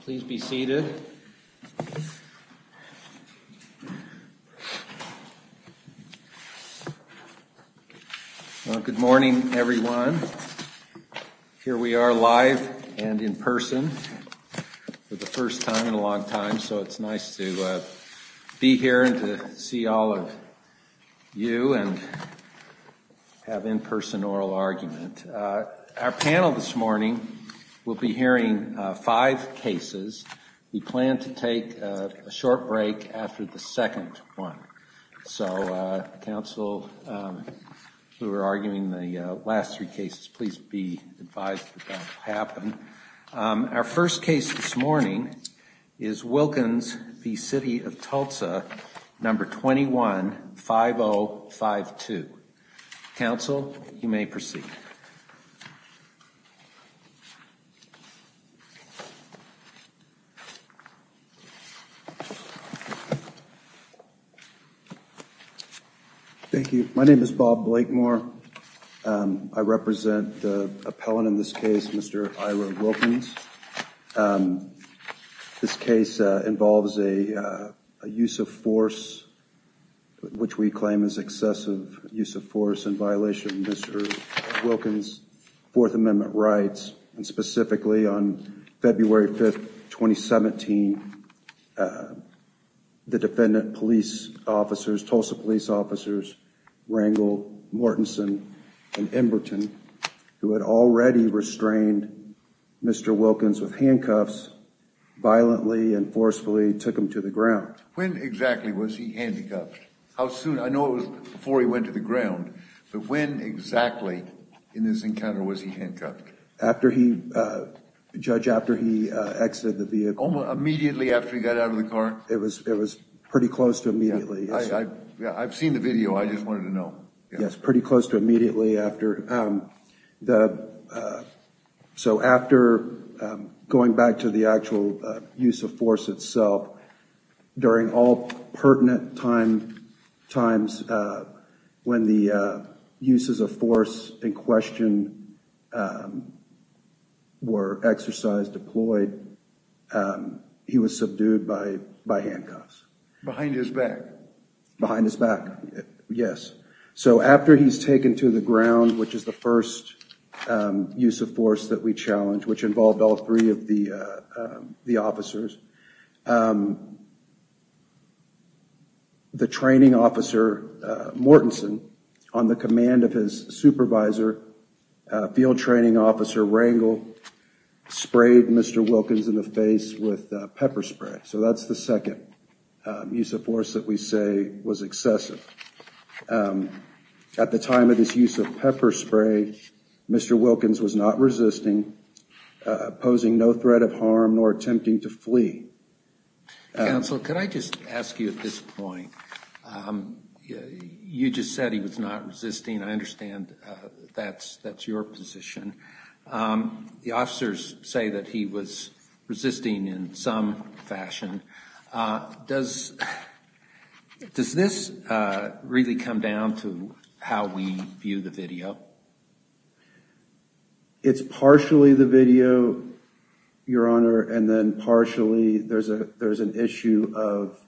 Please be seated. Good morning, everyone. Here we are live and in person for the first time in a long time, so it's nice to be here and to see all of you and have in-person oral argument. Our panel this morning will be hearing five cases. We plan to take a short break after the second one, so counsel who are arguing the last three cases, please be advised that that will happen. Our first case this morning is Wilkins v. City of Tulsa, number 21-5052. Counsel, you may proceed. Thank you. My name is Bob Blakemore. I represent the appellant in this case, Mr. Ira Wilkins. This case involves a use of force which we claim is excessive use of force in violation of Mr. Wilkins' Fourth Amendment rights and specifically on February 5th, 2017, the defendant, police officers, Tulsa police officers, Rangel, Mortenson, and Emberton, who had already restrained Mr. Wilkins with handcuffs, violently and forcefully took him to the ground. When exactly was he handcuffed? Judge, after he exited the vehicle. Immediately after he got out of the car? It was it was pretty close to immediately. I've seen the video, I just wanted to know. Yes, pretty close to immediately after. So after going back to the actual use of force itself, during all pertinent time times when the uses of force in question were exercised, deployed, he was subdued by by handcuffs. Behind his back? Behind his back, yes. So after he's taken to the ground, which is the training officer, Mortenson, on the command of his supervisor, field training officer, Rangel, sprayed Mr. Wilkins in the face with pepper spray. So that's the second use of force that we say was excessive. At the time of this use of pepper spray, Mr. Wilkins was not resisting, posing no I just ask you at this point, you just said he was not resisting. I understand that's that's your position. The officers say that he was resisting in some fashion. Does does this really come down to how we view the video? It's partially the video, your Honor, and then partially there's a there's an issue of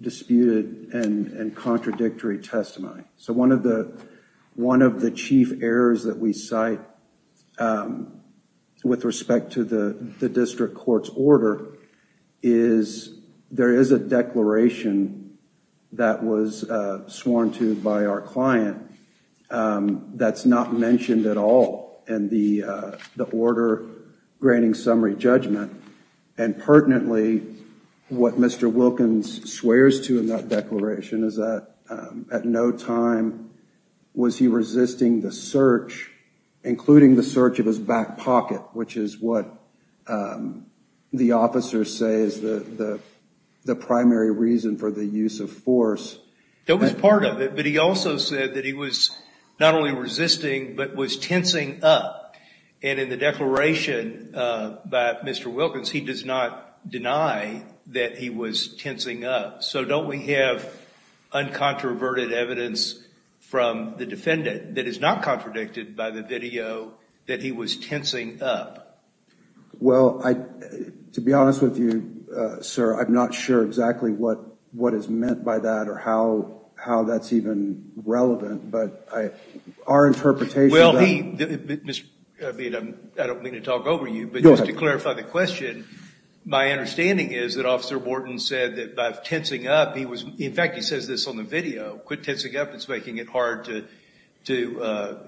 disputed and contradictory testimony. So one of the one of the chief errors that we cite with respect to the district court's order is there is a declaration that was sworn to by our client that's not mentioned at all in the the order granting summary judgment. And pertinently, what Mr. Wilkins swears to in that declaration is that at no time was he resisting the search, including the search of his back pocket, which is what the officers say is the the primary reason for the use of force. That was part of it. But he also said that he was not only resisting, but was tensing up. And in the declaration by Mr. Wilkins, he does not deny that he was tensing up. So don't we have uncontroverted evidence from the defendant that is not Well, to be honest with you, sir, I'm not sure exactly what what is meant by that or how how that's even relevant. But our interpretation. Well, I don't mean to talk over you, but to clarify the question, my understanding is that Officer Wharton said that by tensing up, he was in fact, he says this on the video, quit tensing up. It's making it hard to to,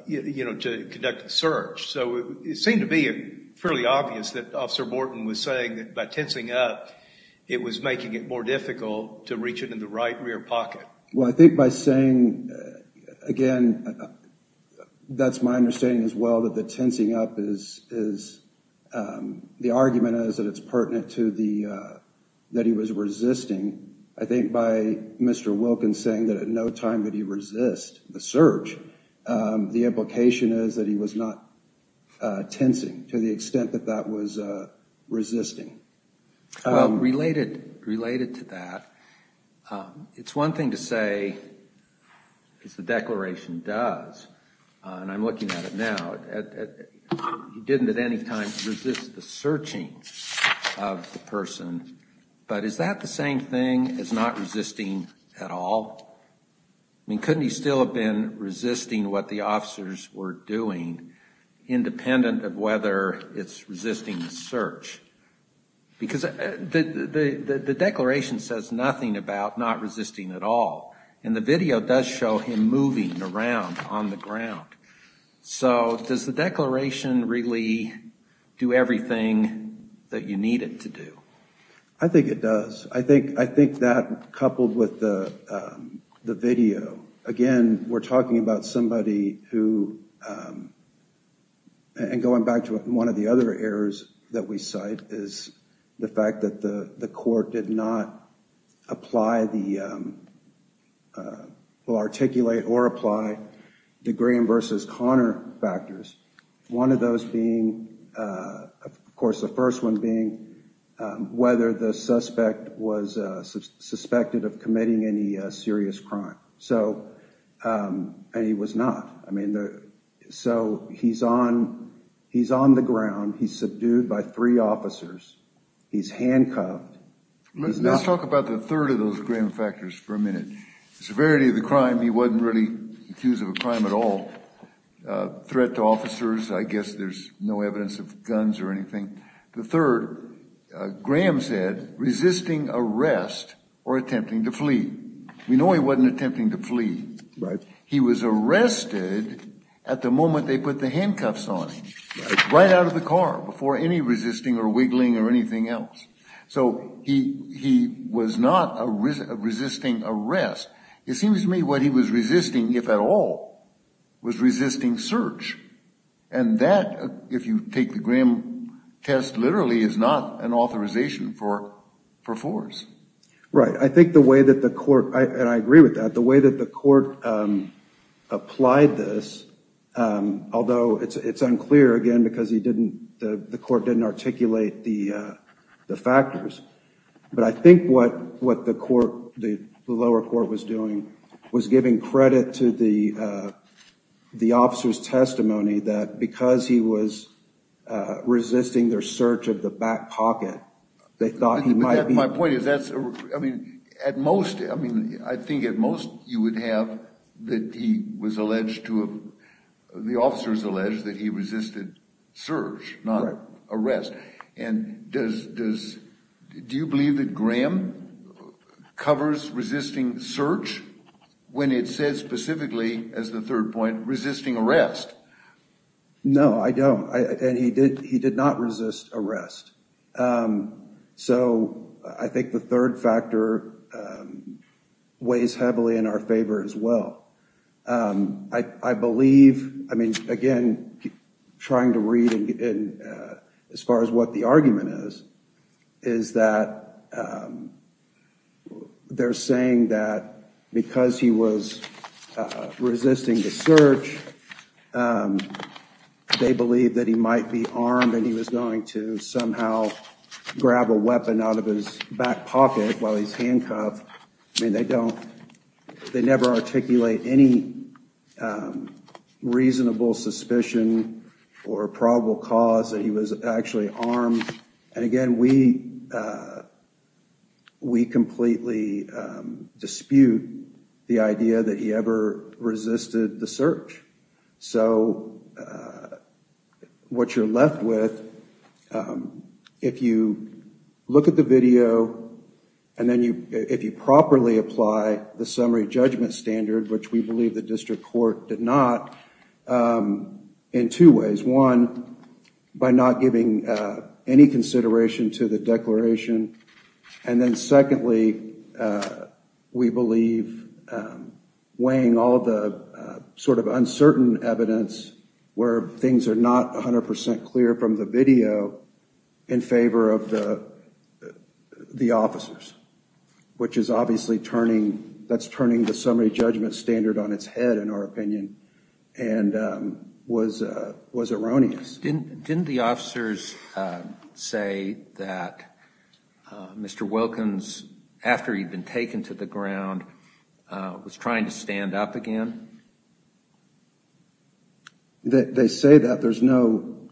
you know, to conduct the search. So it seemed to be fairly obvious that Officer Wharton was saying that by tensing up, it was making it more difficult to reach it in the right rear pocket. Well, I think by saying again, that's my understanding as well, that the tensing up is is the argument is that it's a search. The implication is that he was not tensing to the extent that that was resisting. Related related to that, it's one thing to say is the declaration does and I'm looking at it now. He didn't at any time resist the searching of the person. But is that the same thing as not resisting at all? I mean, couldn't he still have been resisting what the officers were doing, independent of whether it's resisting the search? Because the the declaration says nothing about not resisting at all. And the video does show him moving around on the ground. So does the declaration really do everything that you need it to do? I think it does. I think I think that coupled with the the video, again, we're talking about somebody who and going back to one of the other errors that we cite is the fact that the the court did not apply the will articulate or apply the Graham versus Connor factors. One of those being, of course, the first one being whether the suspect was suspected of committing any serious crime. So he was not. I mean, so he's on he's on the ground. He's subdued by three officers. He's handcuffed. Let's talk about the third of those Graham factors for a minute. Severity of the crime. He wasn't really accused of a crime at all. He wasn't a threat to officers. I guess there's no evidence of guns or anything. The third, Graham said resisting arrest or attempting to flee. We know he wasn't attempting to flee. Right. He was arrested at the moment they put the handcuffs on him, right out of the car before any resisting or wiggling or anything else. So he he was not resisting arrest. It seems to me what he was resisting, if at all, was resisting search. And that, if you take the Graham test literally, is not an authorization for for force. Right. I think the way that the court, and I agree with that, the way that the court applied this, although it's unclear, again, because he didn't the court didn't articulate the the factors. But I think what what the court, the lower court was doing was giving credit to the officer's testimony that because he was resisting their search of the back pocket, they thought he might be. My point is that's, I mean, at most, I mean, I think at most you would have that he was alleged to have, the officers alleged that he resisted search, not arrest. And does, does, do you believe that Graham covers resisting search when it says specifically, as the third point, resisting arrest? No, I don't. And he did, he did not resist arrest. So I think the third factor weighs heavily in our favor as well. I believe, I mean, again, trying to read, as far as what the argument is, is that they're saying that because he was resisting the search, they believe that he might be armed and he was going to somehow grab a weapon out of his back pocket while he's handcuffed. I mean, they don't, they never articulate any reasonable suspicion or probable cause that he was actually armed. And again, we we completely dispute the idea that he ever resisted the search. So what you're left with, if you look at the video, and then you, if you properly apply the summary judgment standard, which we believe the district court did not, in two ways. One, by not giving any consideration to the declaration and then secondly, we believe weighing all the sort of uncertain evidence where things are not 100% clear from the video in favor of the the officers, which is obviously turning, that's turning the summary judgment standard on its head, in our opinion, and was, was erroneous. Didn't the officers say that Mr. Wilkins, after he'd been taken to the ground, was trying to stand up again? They say that. There's no,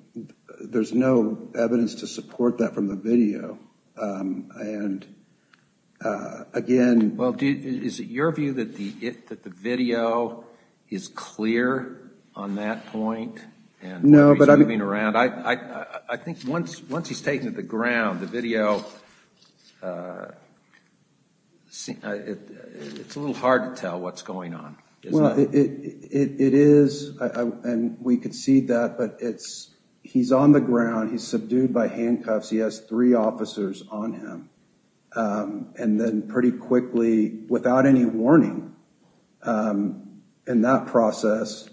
there's no evidence to support that from the video and again... Well, is it your view that the, that the video is clear on that point? No, but I'm moving around. I, I, I think once, once he's taken to the ground, the video, it's a little hard to tell what's going on. Well, it is, and we could see that, but it's, he's on the ground, he's subdued by handcuffs, he has three officers on him, and then pretty quickly, without any warning, in that process,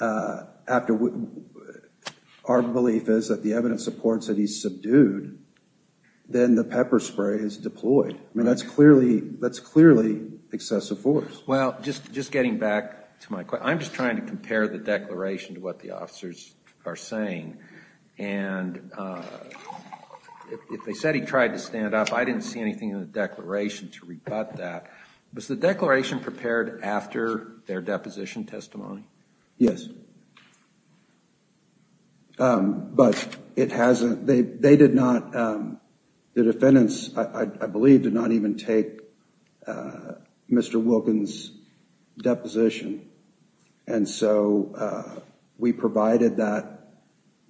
after, our belief is that the evidence supports that he's subdued, then the pepper spray is deployed. I mean, that's clearly, that's clearly excessive force. Well, just, just getting back to my question, I'm just trying to compare the declaration to what the officers are saying, and if they said he tried to stand up, I didn't see anything in the declaration to rebut that. Was the declaration prepared after their deposition testimony? Yes. But it hasn't, they, they did not, the defendants, I believe, did not even take Mr. Wilkins' deposition, and so we provided that,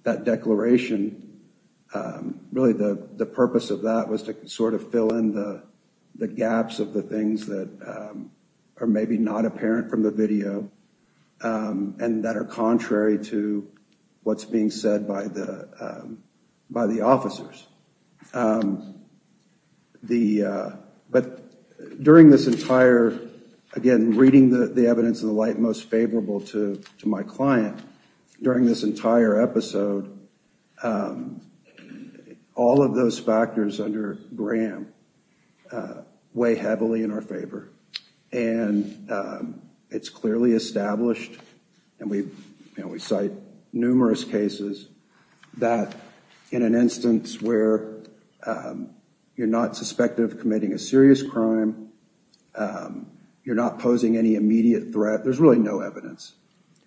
that declaration. Really, the, the purpose of that was to sort of fill in the, the gaps of the things that are maybe not apparent from the video. And that are contrary to what's being said by the, by the officers. The, but during this entire, again, reading the, the evidence of the light most favorable to, to my client, during this entire episode, all of those factors under Graham weigh heavily in our favor, and it's clearly established, and we, you know, we cite numerous cases that in an instance where you're not suspected of committing a serious crime, you're not posing any immediate threat, there's really no evidence.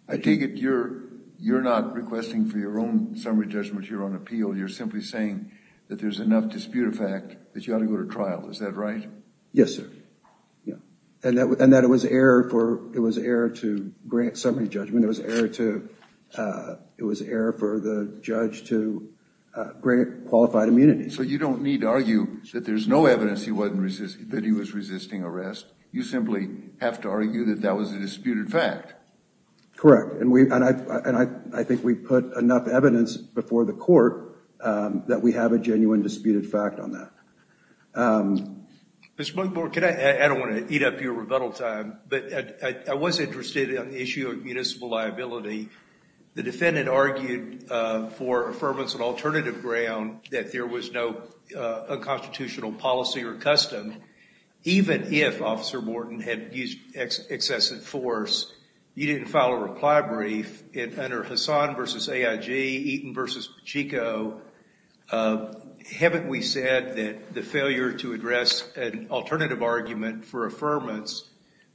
I take it you're, you're not requesting for your own summary judgment, your own appeal, you're simply saying that there's enough disputed fact that you ought to go to trial, is that right? Yes, sir. Yeah, and that, and that it was error for, it was error to grant summary judgment, it was error to, it was error for the judge to grant qualified immunity. So you don't need to argue that there's no evidence he wasn't resisting, that he was resisting arrest, you simply have to argue that that was a disputed fact. Correct, and we, and I, and I, I think we put enough evidence before the court that we have a genuine disputed fact on that. Mr. McBorn, can I, I don't want to eat up your rebuttal time, but I, I was interested in the issue of municipal liability. The defendant argued for affirmance on alternative ground, that there was no unconstitutional policy or custom, even if Officer Morton had used excessive force, you didn't file a reply brief, and under Hassan versus AIG, Eaton versus Pacheco, haven't we said that the failure to address an alternative argument for affirmance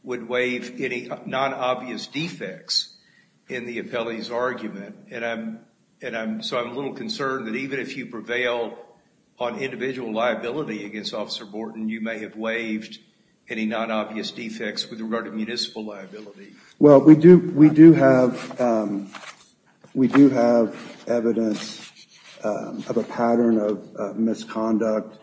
would waive any non-obvious defects in the appellee's argument, and I'm, and I'm, so I'm a little concerned that even if you prevail on individual liability against Officer Morton, you may have waived any non-obvious defects with regard to municipal liability. Well, we do, we do have, we do have evidence of a pattern of misconduct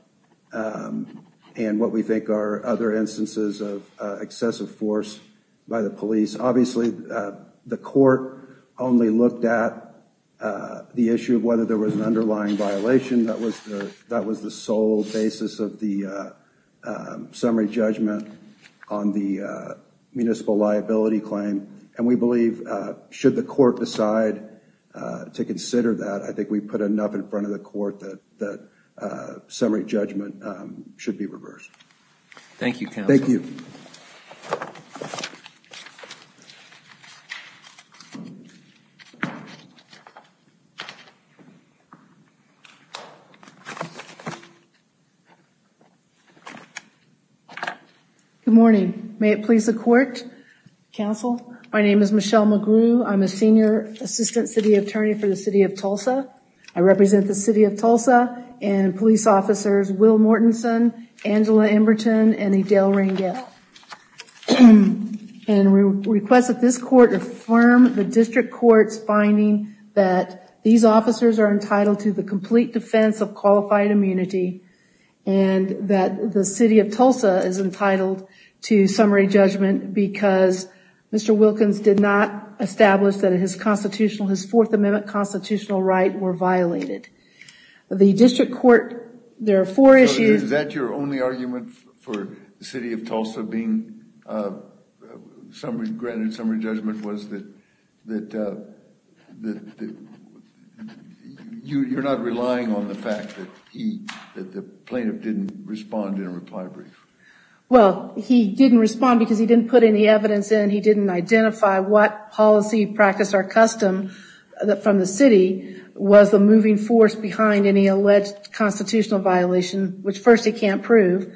and what we think are other instances of excessive force by the police. Obviously, the court only looked at the issue of whether there was an underlying violation. That was the, that was the sole basis of the summary judgment on the municipal liability claim, and we believe, should the court decide to consider that, I think we put enough in front of the court that that summary judgment should be reversed. Thank you, counsel. Thank you. Good morning. May it please the court, counsel. My name is Michelle McGrew. I'm a senior assistant city attorney for the City of Tulsa. I represent the City of Tulsa and police officers Will Mortenson, Angela Emberton, and Adele Reingett. And we request that this court affirm the district court's finding that these officers are entitled to the complete defense of qualified immunity and that the City of Tulsa is entitled to summary judgment because Mr. Wilkins did not establish that his constitutional, his Fourth Amendment constitutional right, were violated. The district court, there are four issues. Is that your only argument for the City of Tulsa being a summary, granted summary judgment, was that that that that you're not relying on the fact that he, that the plaintiff didn't respond in a reply brief? Well, he didn't respond because he didn't put any evidence in. He didn't identify what policy practice or custom from the city was the moving force behind any alleged constitutional violation, which first he can't prove,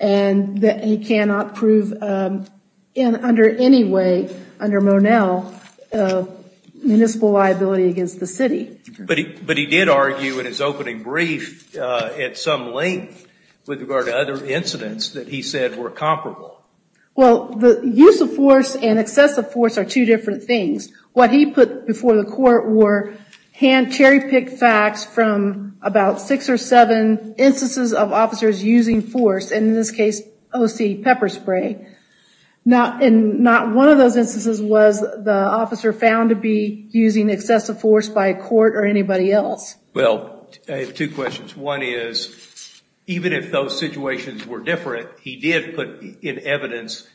and that he cannot prove in under any way under Monell of municipal liability against the city. But he, but he did argue in his opening brief at some length with regard to other incidents that he said were comparable. Well, the use of force and excessive force are two different things. What he put before the court were hand cherry-picked facts from about six or seven instances of officers using force, and in this case O.C. pepper spray. Now, and not one of those instances was the officer found to be using excessive force by a court or anybody else. Well, I have two questions. One is even if those situations were different, he did put in evidence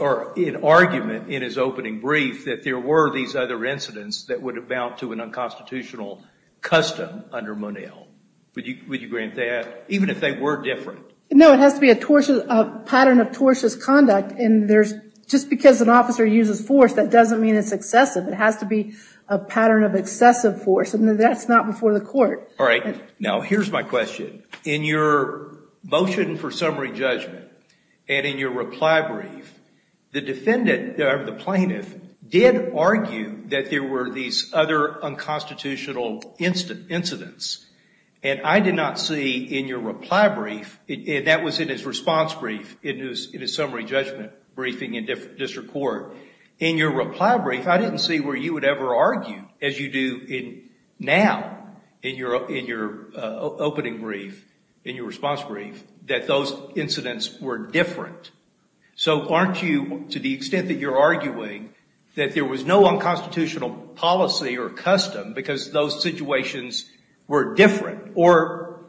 or in argument in his opening brief that there were these other incidents that would have bound to an unconstitutional custom under Monell. Would you grant that, even if they were different? No, it has to be a tortuous, a pattern of tortious conduct, and there's just because an officer uses force that doesn't mean it's excessive. It has to be a pattern of excessive force, and that's not before the court. All right. Now, here's my question. In your motion for summary judgment and in your reply brief, the defendant, or the plaintiff, did argue that there were these other unconstitutional incidents, and I did not see in your reply brief, and that was in his response brief, in his summary judgment briefing in district court, in your reply brief, I didn't see where you would ever argue as you do now in your opening brief, in your response brief, that those incidents were different. So aren't you, to the extent that you're arguing, that there was no unconstitutional policy or custom because those situations were different or,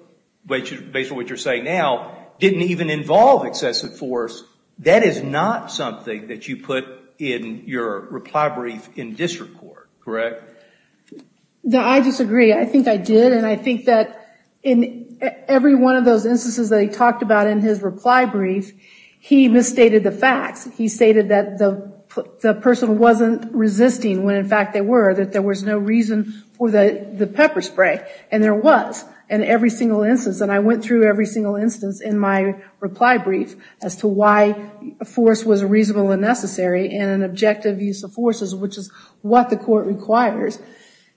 based on what you're saying now, didn't even involve excessive force? That is not something that you put in your reply brief in district court, correct? No, I disagree. I think I did, and I think that in every one of those instances that he talked about in his reply brief, he misstated the facts. He stated that the person wasn't resisting when in fact they were, that there was no reason for the pepper spray. And there was in every single instance, and I went through every single instance in my reply brief as to why a force was reasonable and necessary and an objective use of forces, which is what the court requires.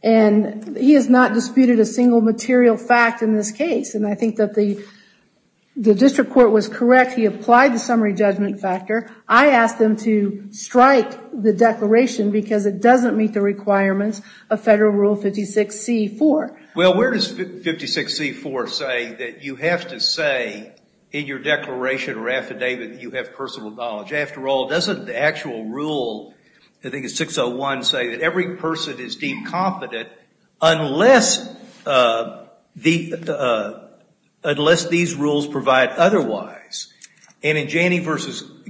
And he has not disputed a single material fact in this case, and I think that the declaration, because it doesn't meet the requirements of federal rule 56c-4. Well, where does 56c-4 say that you have to say in your declaration or affidavit that you have personal knowledge? After all, doesn't the actual rule, I think it's 601, say that every person is deemed competent unless these rules provide otherwise? And in Janney v.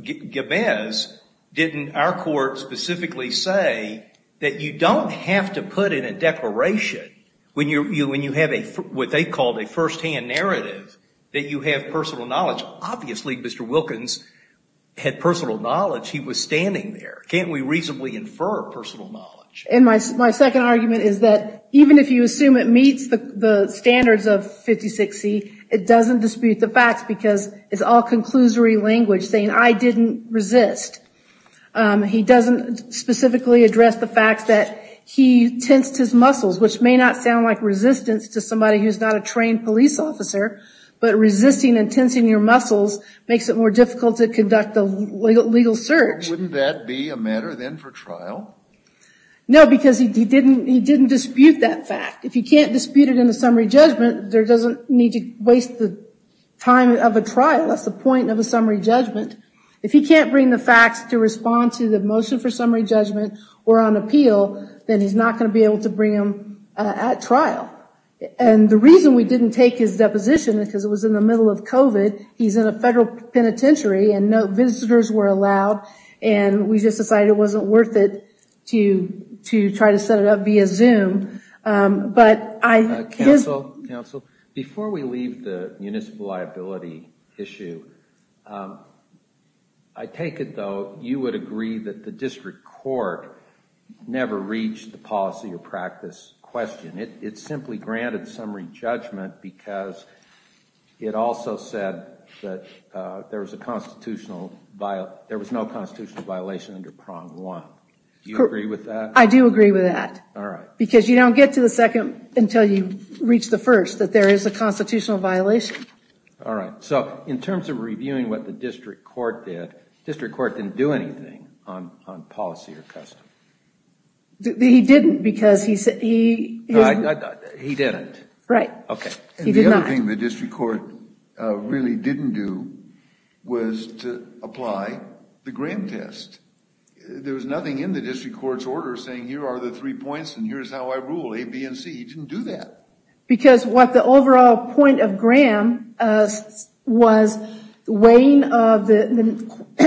Gibbs, didn't our court specifically say that you don't have to put in a declaration when you have what they called a first-hand narrative, that you have personal knowledge. Obviously, Mr. Wilkins had personal knowledge. He was standing there. Can't we reasonably infer personal knowledge? And my second argument is that even if you assume it meets the standards of 56c, it doesn't dispute the facts because it's all conclusory language saying I didn't resist. He doesn't specifically address the fact that he tensed his muscles, which may not sound like resistance to somebody who's not a trained police officer, but resisting and tensing your muscles makes it more difficult to conduct a legal search. Wouldn't that be a matter then for trial? No, because he didn't dispute that fact. If you can't dispute it in the summary judgment, there doesn't need to waste the time of a trial. That's the point of a summary judgment. If he can't bring the facts to respond to the motion for summary judgment or on appeal, then he's not going to be able to bring him at trial. And the reason we didn't take his deposition because it was in the middle of COVID, he's in a federal penitentiary and no visitors were allowed and we just decided it wasn't worth it to try to set it up via Zoom. Before we leave the municipal liability issue, I take it though you would agree that the district court never reached the policy or practice question. It simply granted summary judgment because it also said that there was no constitutional violation under prong one. Do you agree with that? I do agree with that. All right. Because you don't get to the second until you reach the first that there is a constitutional violation. All right. So in terms of reviewing what the district court did, district court didn't do anything on policy or custom. He didn't because he said he... He didn't. Right. Okay. He did not. The other thing the district court really didn't do was to apply the grant test. There was nothing in the district court's order saying here are the three points and here's how I rule. A, B, and C. He didn't do that. Because what the overall point of Graham was weighing of the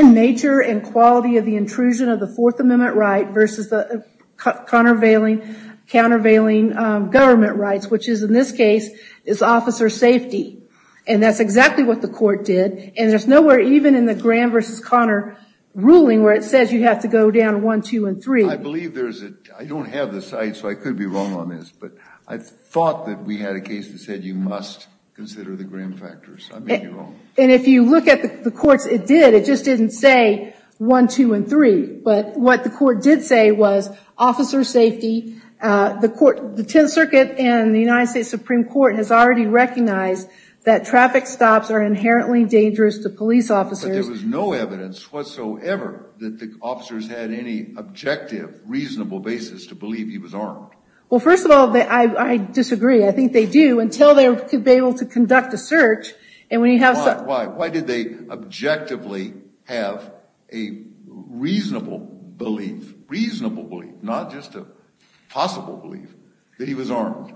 nature and quality of the intrusion of the Fourth Amendment right versus the countervailing government rights, which is in this case is officer safety. And that's exactly what the court did and there's nowhere even in the Graham versus Connor ruling where it says you have to go down one, two, and three. I believe there's a... I don't have the site so I could be wrong on this, but I thought that we had a case that said you must consider the Graham factors. I may be wrong. And if you look at the courts, it did. It just didn't say one, two, and three. But what the court did say was officer safety. The court, the Tenth Circuit and the United States Supreme Court has already recognized that traffic stops are inherently dangerous to police officers. But there was no evidence whatsoever that the officers had any objective, reasonable basis to believe he was armed. Well, first of all, I disagree. I think they do until they could be able to conduct a search and when you have... Why? Why did they objectively have a reasonable belief, reasonable belief, not just a possible belief, that he was armed?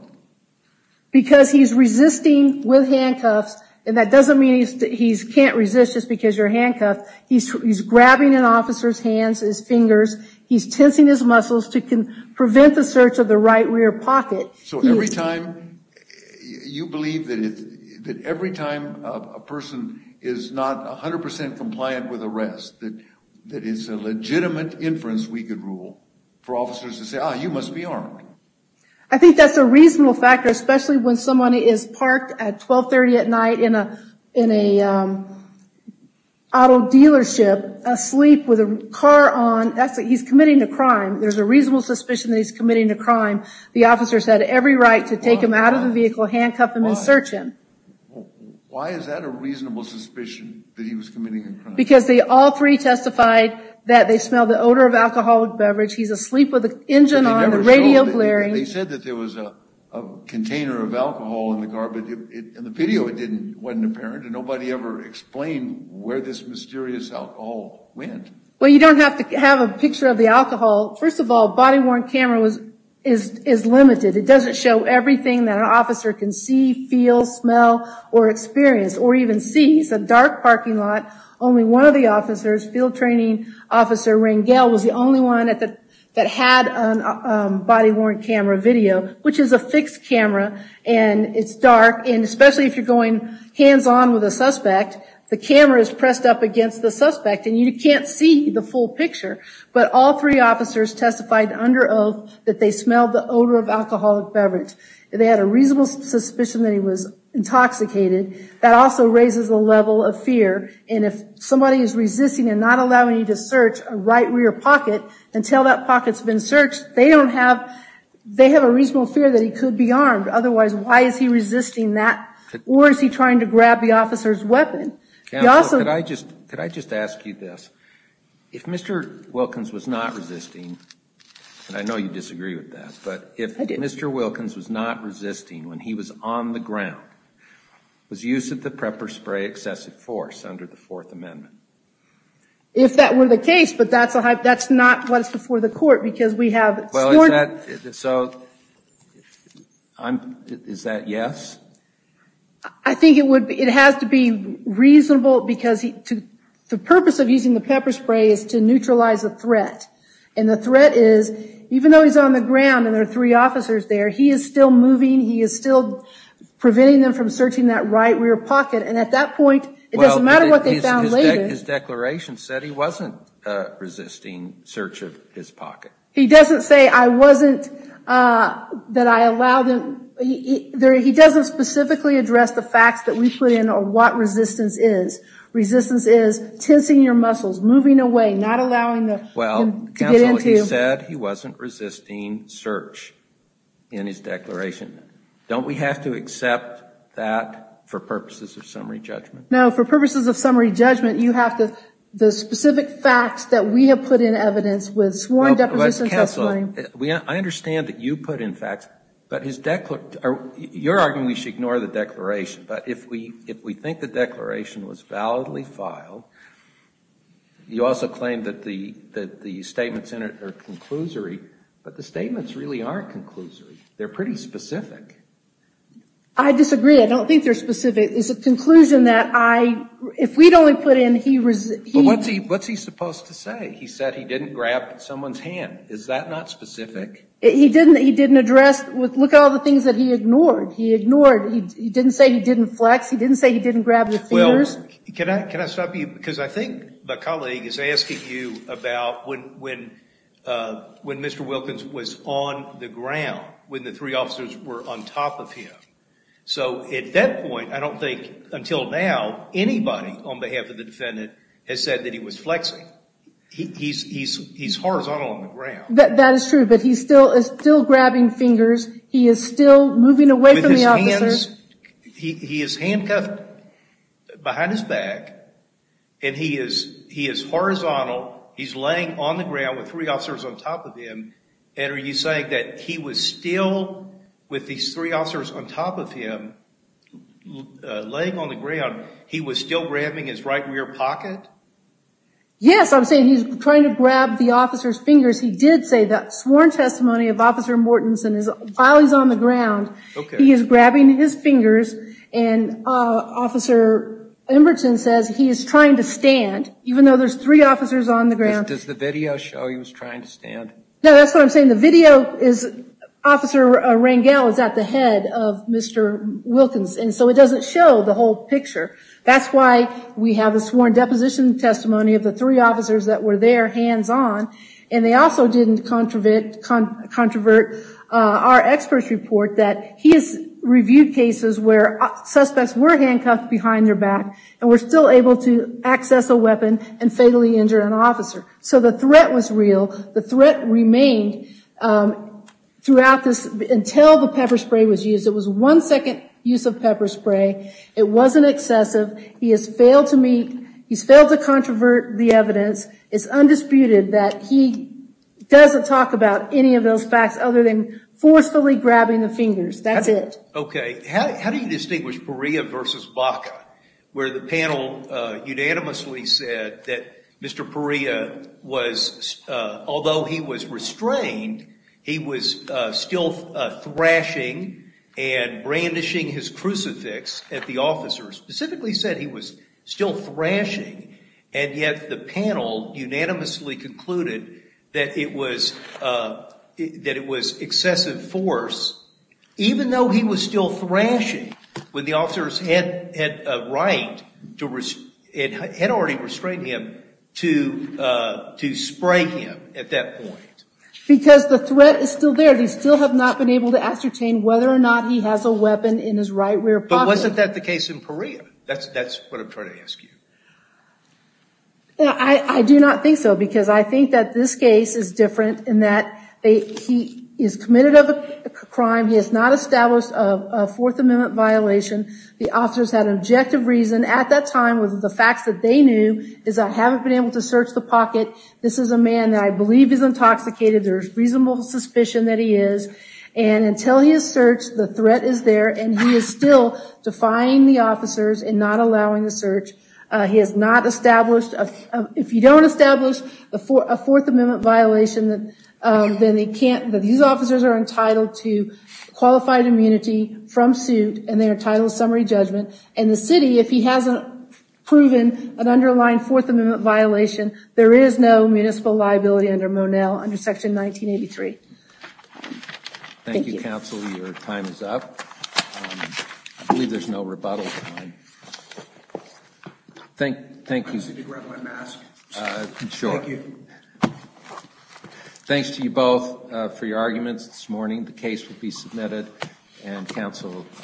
Because he's resisting with handcuffs and that doesn't mean he can't resist just because you're handcuffed. He's grabbing an officer's hands, his fingers. He's tensing his muscles to prevent the search of the right rear pocket. So every time you believe that every time a person is not 100% compliant with arrest, that it's a legitimate inference we could rule for officers to say, ah, you must be armed. I think that's a reasonable factor, especially when someone is parked at 12 30 at night in a auto dealership asleep with a car on. That's what he's committing a crime. There's a reasonable suspicion that he's committing a crime. The officers had every right to take him out of the vehicle, handcuff him and search him. Why is that a reasonable suspicion that he was committing a crime? Because they all three testified that they smelled the odor of alcoholic beverage. He's asleep with the engine on, the radio blaring. They said that there was a container of alcohol in the car, but in the video it wasn't apparent and nobody ever explained where this mysterious alcohol went. Well, you don't have to have a picture of the alcohol. First of all, a body-worn camera is limited. It doesn't show everything that an officer can see, feel, smell, or experience or even see. It's a dark parking lot. Only one of the officers, field training officer Rangel, was the only one that had a body-worn camera video, which is a fixed camera and it's dark. And especially if you're going hands-on with a suspect, the camera is pressed up against the suspect and you can't see the full picture. But all three officers testified under oath that they smelled the odor of alcoholic beverage. They had a reasonable suspicion that he was armed. And if somebody is resisting and not allowing you to search a right rear pocket until that pocket's been searched, they don't have, they have a reasonable fear that he could be armed. Otherwise, why is he resisting that? Or is he trying to grab the officer's weapon? Could I just ask you this? If Mr. Wilkins was not resisting, and I know you disagree with that, but if Mr. Wilkins was not resisting when he was on the ground, was use of the pepper spray excessive force under the fourth amendment? If that were the case, but that's a hype, that's not what's before the court, because we have, well, is that, so I'm, is that yes? I think it would, it has to be reasonable because he, to, the purpose of using the pepper spray is to neutralize the threat. And the threat is, even though he's on the ground and there are three officers there, he is still moving, he is still preventing them from searching that right rear pocket. And at that point, it doesn't matter what they found later, his declaration said he wasn't resisting search of his pocket. He doesn't say I wasn't, that I allowed him, he doesn't specifically address the facts that we put in or what resistance is. Resistance is tensing your muscles, moving away, not allowing them to get into. Well, that's all he said. He wasn't resisting search in his declaration. Don't we have to accept that for purposes of summary judgment? No, for purposes of summary judgment, you have to, the specific facts that we have put in evidence with sworn deposition testimony. We, I understand that you put in facts, but his, you're arguing we should ignore the declaration, but if we, if we think the declaration was validly filed, you also claim that the, that the statements in it are conclusory, but the statements really aren't conclusory. They're pretty specific. I disagree. I don't think they're specific. It's a conclusion that I, if we'd only put in he, he, what's he, what's he supposed to say? He said he didn't grab someone's hand. Is that not specific? He didn't, he didn't address with, look at all the things that he ignored. He ignored, he didn't say he didn't flex. He didn't say he didn't grab the fingers. Can I, can I stop you? Because I think the colleague is asking you about when, when, uh, when Mr. Wilkins was on the ground, when the three officers were on top of him. So at that point, I don't think until now, anybody on behalf of the defendant has said that he was flexing. He, he's, he's, he's horizontal on the ground. That is true, but he's still, is still grabbing fingers. He is still moving away from the officer. With his hands, he, he is handcuffed behind his back. And he is, he is horizontal. He's laying on the ground with three officers on top of him. And are you saying that he was still with these three officers on top of him laying on the ground, he was still grabbing his right rear pocket? Yes, I'm saying he's trying to grab the officer's fingers. He did say that sworn testimony of Officer Mortensen, while he's on the ground, he is grabbing his fingers and Officer Emberton says he is trying to stand, even though there's three officers on the ground. Does the video show he was trying to stand? No, that's what I'm saying. The video is Officer Rangel is at the head of Mr. Wilkins. And so it doesn't show the whole picture. That's why we have a sworn deposition testimony of the three officers that were there, hands on. And they also didn't controvert, our experts report that he has reviewed cases where suspects were handcuffed behind their back and were still able to access a weapon and fatally injure an officer. So the threat was real. The threat remained throughout this, until the pepper spray was used. It was one second use of pepper spray. It wasn't excessive. He has failed to meet, he's failed to controvert the evidence. It's undisputed that he doesn't talk about any of those facts other than forcefully grabbing the fingers. That's it. Okay. How do you distinguish Perea versus Baca? Where the panel unanimously said that Mr. Perea was, although he was restrained, he was still thrashing and brandishing his crucifix at the officer. Specifically said he was still thrashing. And yet the panel unanimously concluded that it was that it was excessive force, even though he was still thrashing when the officers had had a right to, had already restrained him to spray him at that point. Because the threat is still there. They still have not been able to ascertain whether or not he has a weapon in his right rear pocket. But wasn't that the case in Perea? That's what I'm trying to ask you. Yeah, I do not think so. Because I think that this case is different in that he is committed of a crime. He has not established a Fourth Amendment violation. The officers had objective reason at that time with the facts that they knew is that I haven't been able to search the pocket. This is a man that I believe is intoxicated. There's reasonable suspicion that he is. And until he is searched, the threat is there and he is still defying the officers and not allowing the search. He has not established, if you don't establish a Fourth Amendment violation, then they can't, these officers are entitled to qualified immunity from suit and they're entitled to summary judgment. And the city, if he hasn't proven an underlying Fourth Amendment violation, there is no municipal liability under Monell under Section 1983. Thank you, counsel. Your time is up. I believe there's no rebuttal time. Thank you. I need to grab my mask. Sure. Thank you. Thanks to you both for your arguments this morning. The case will be submitted and counsel are excused.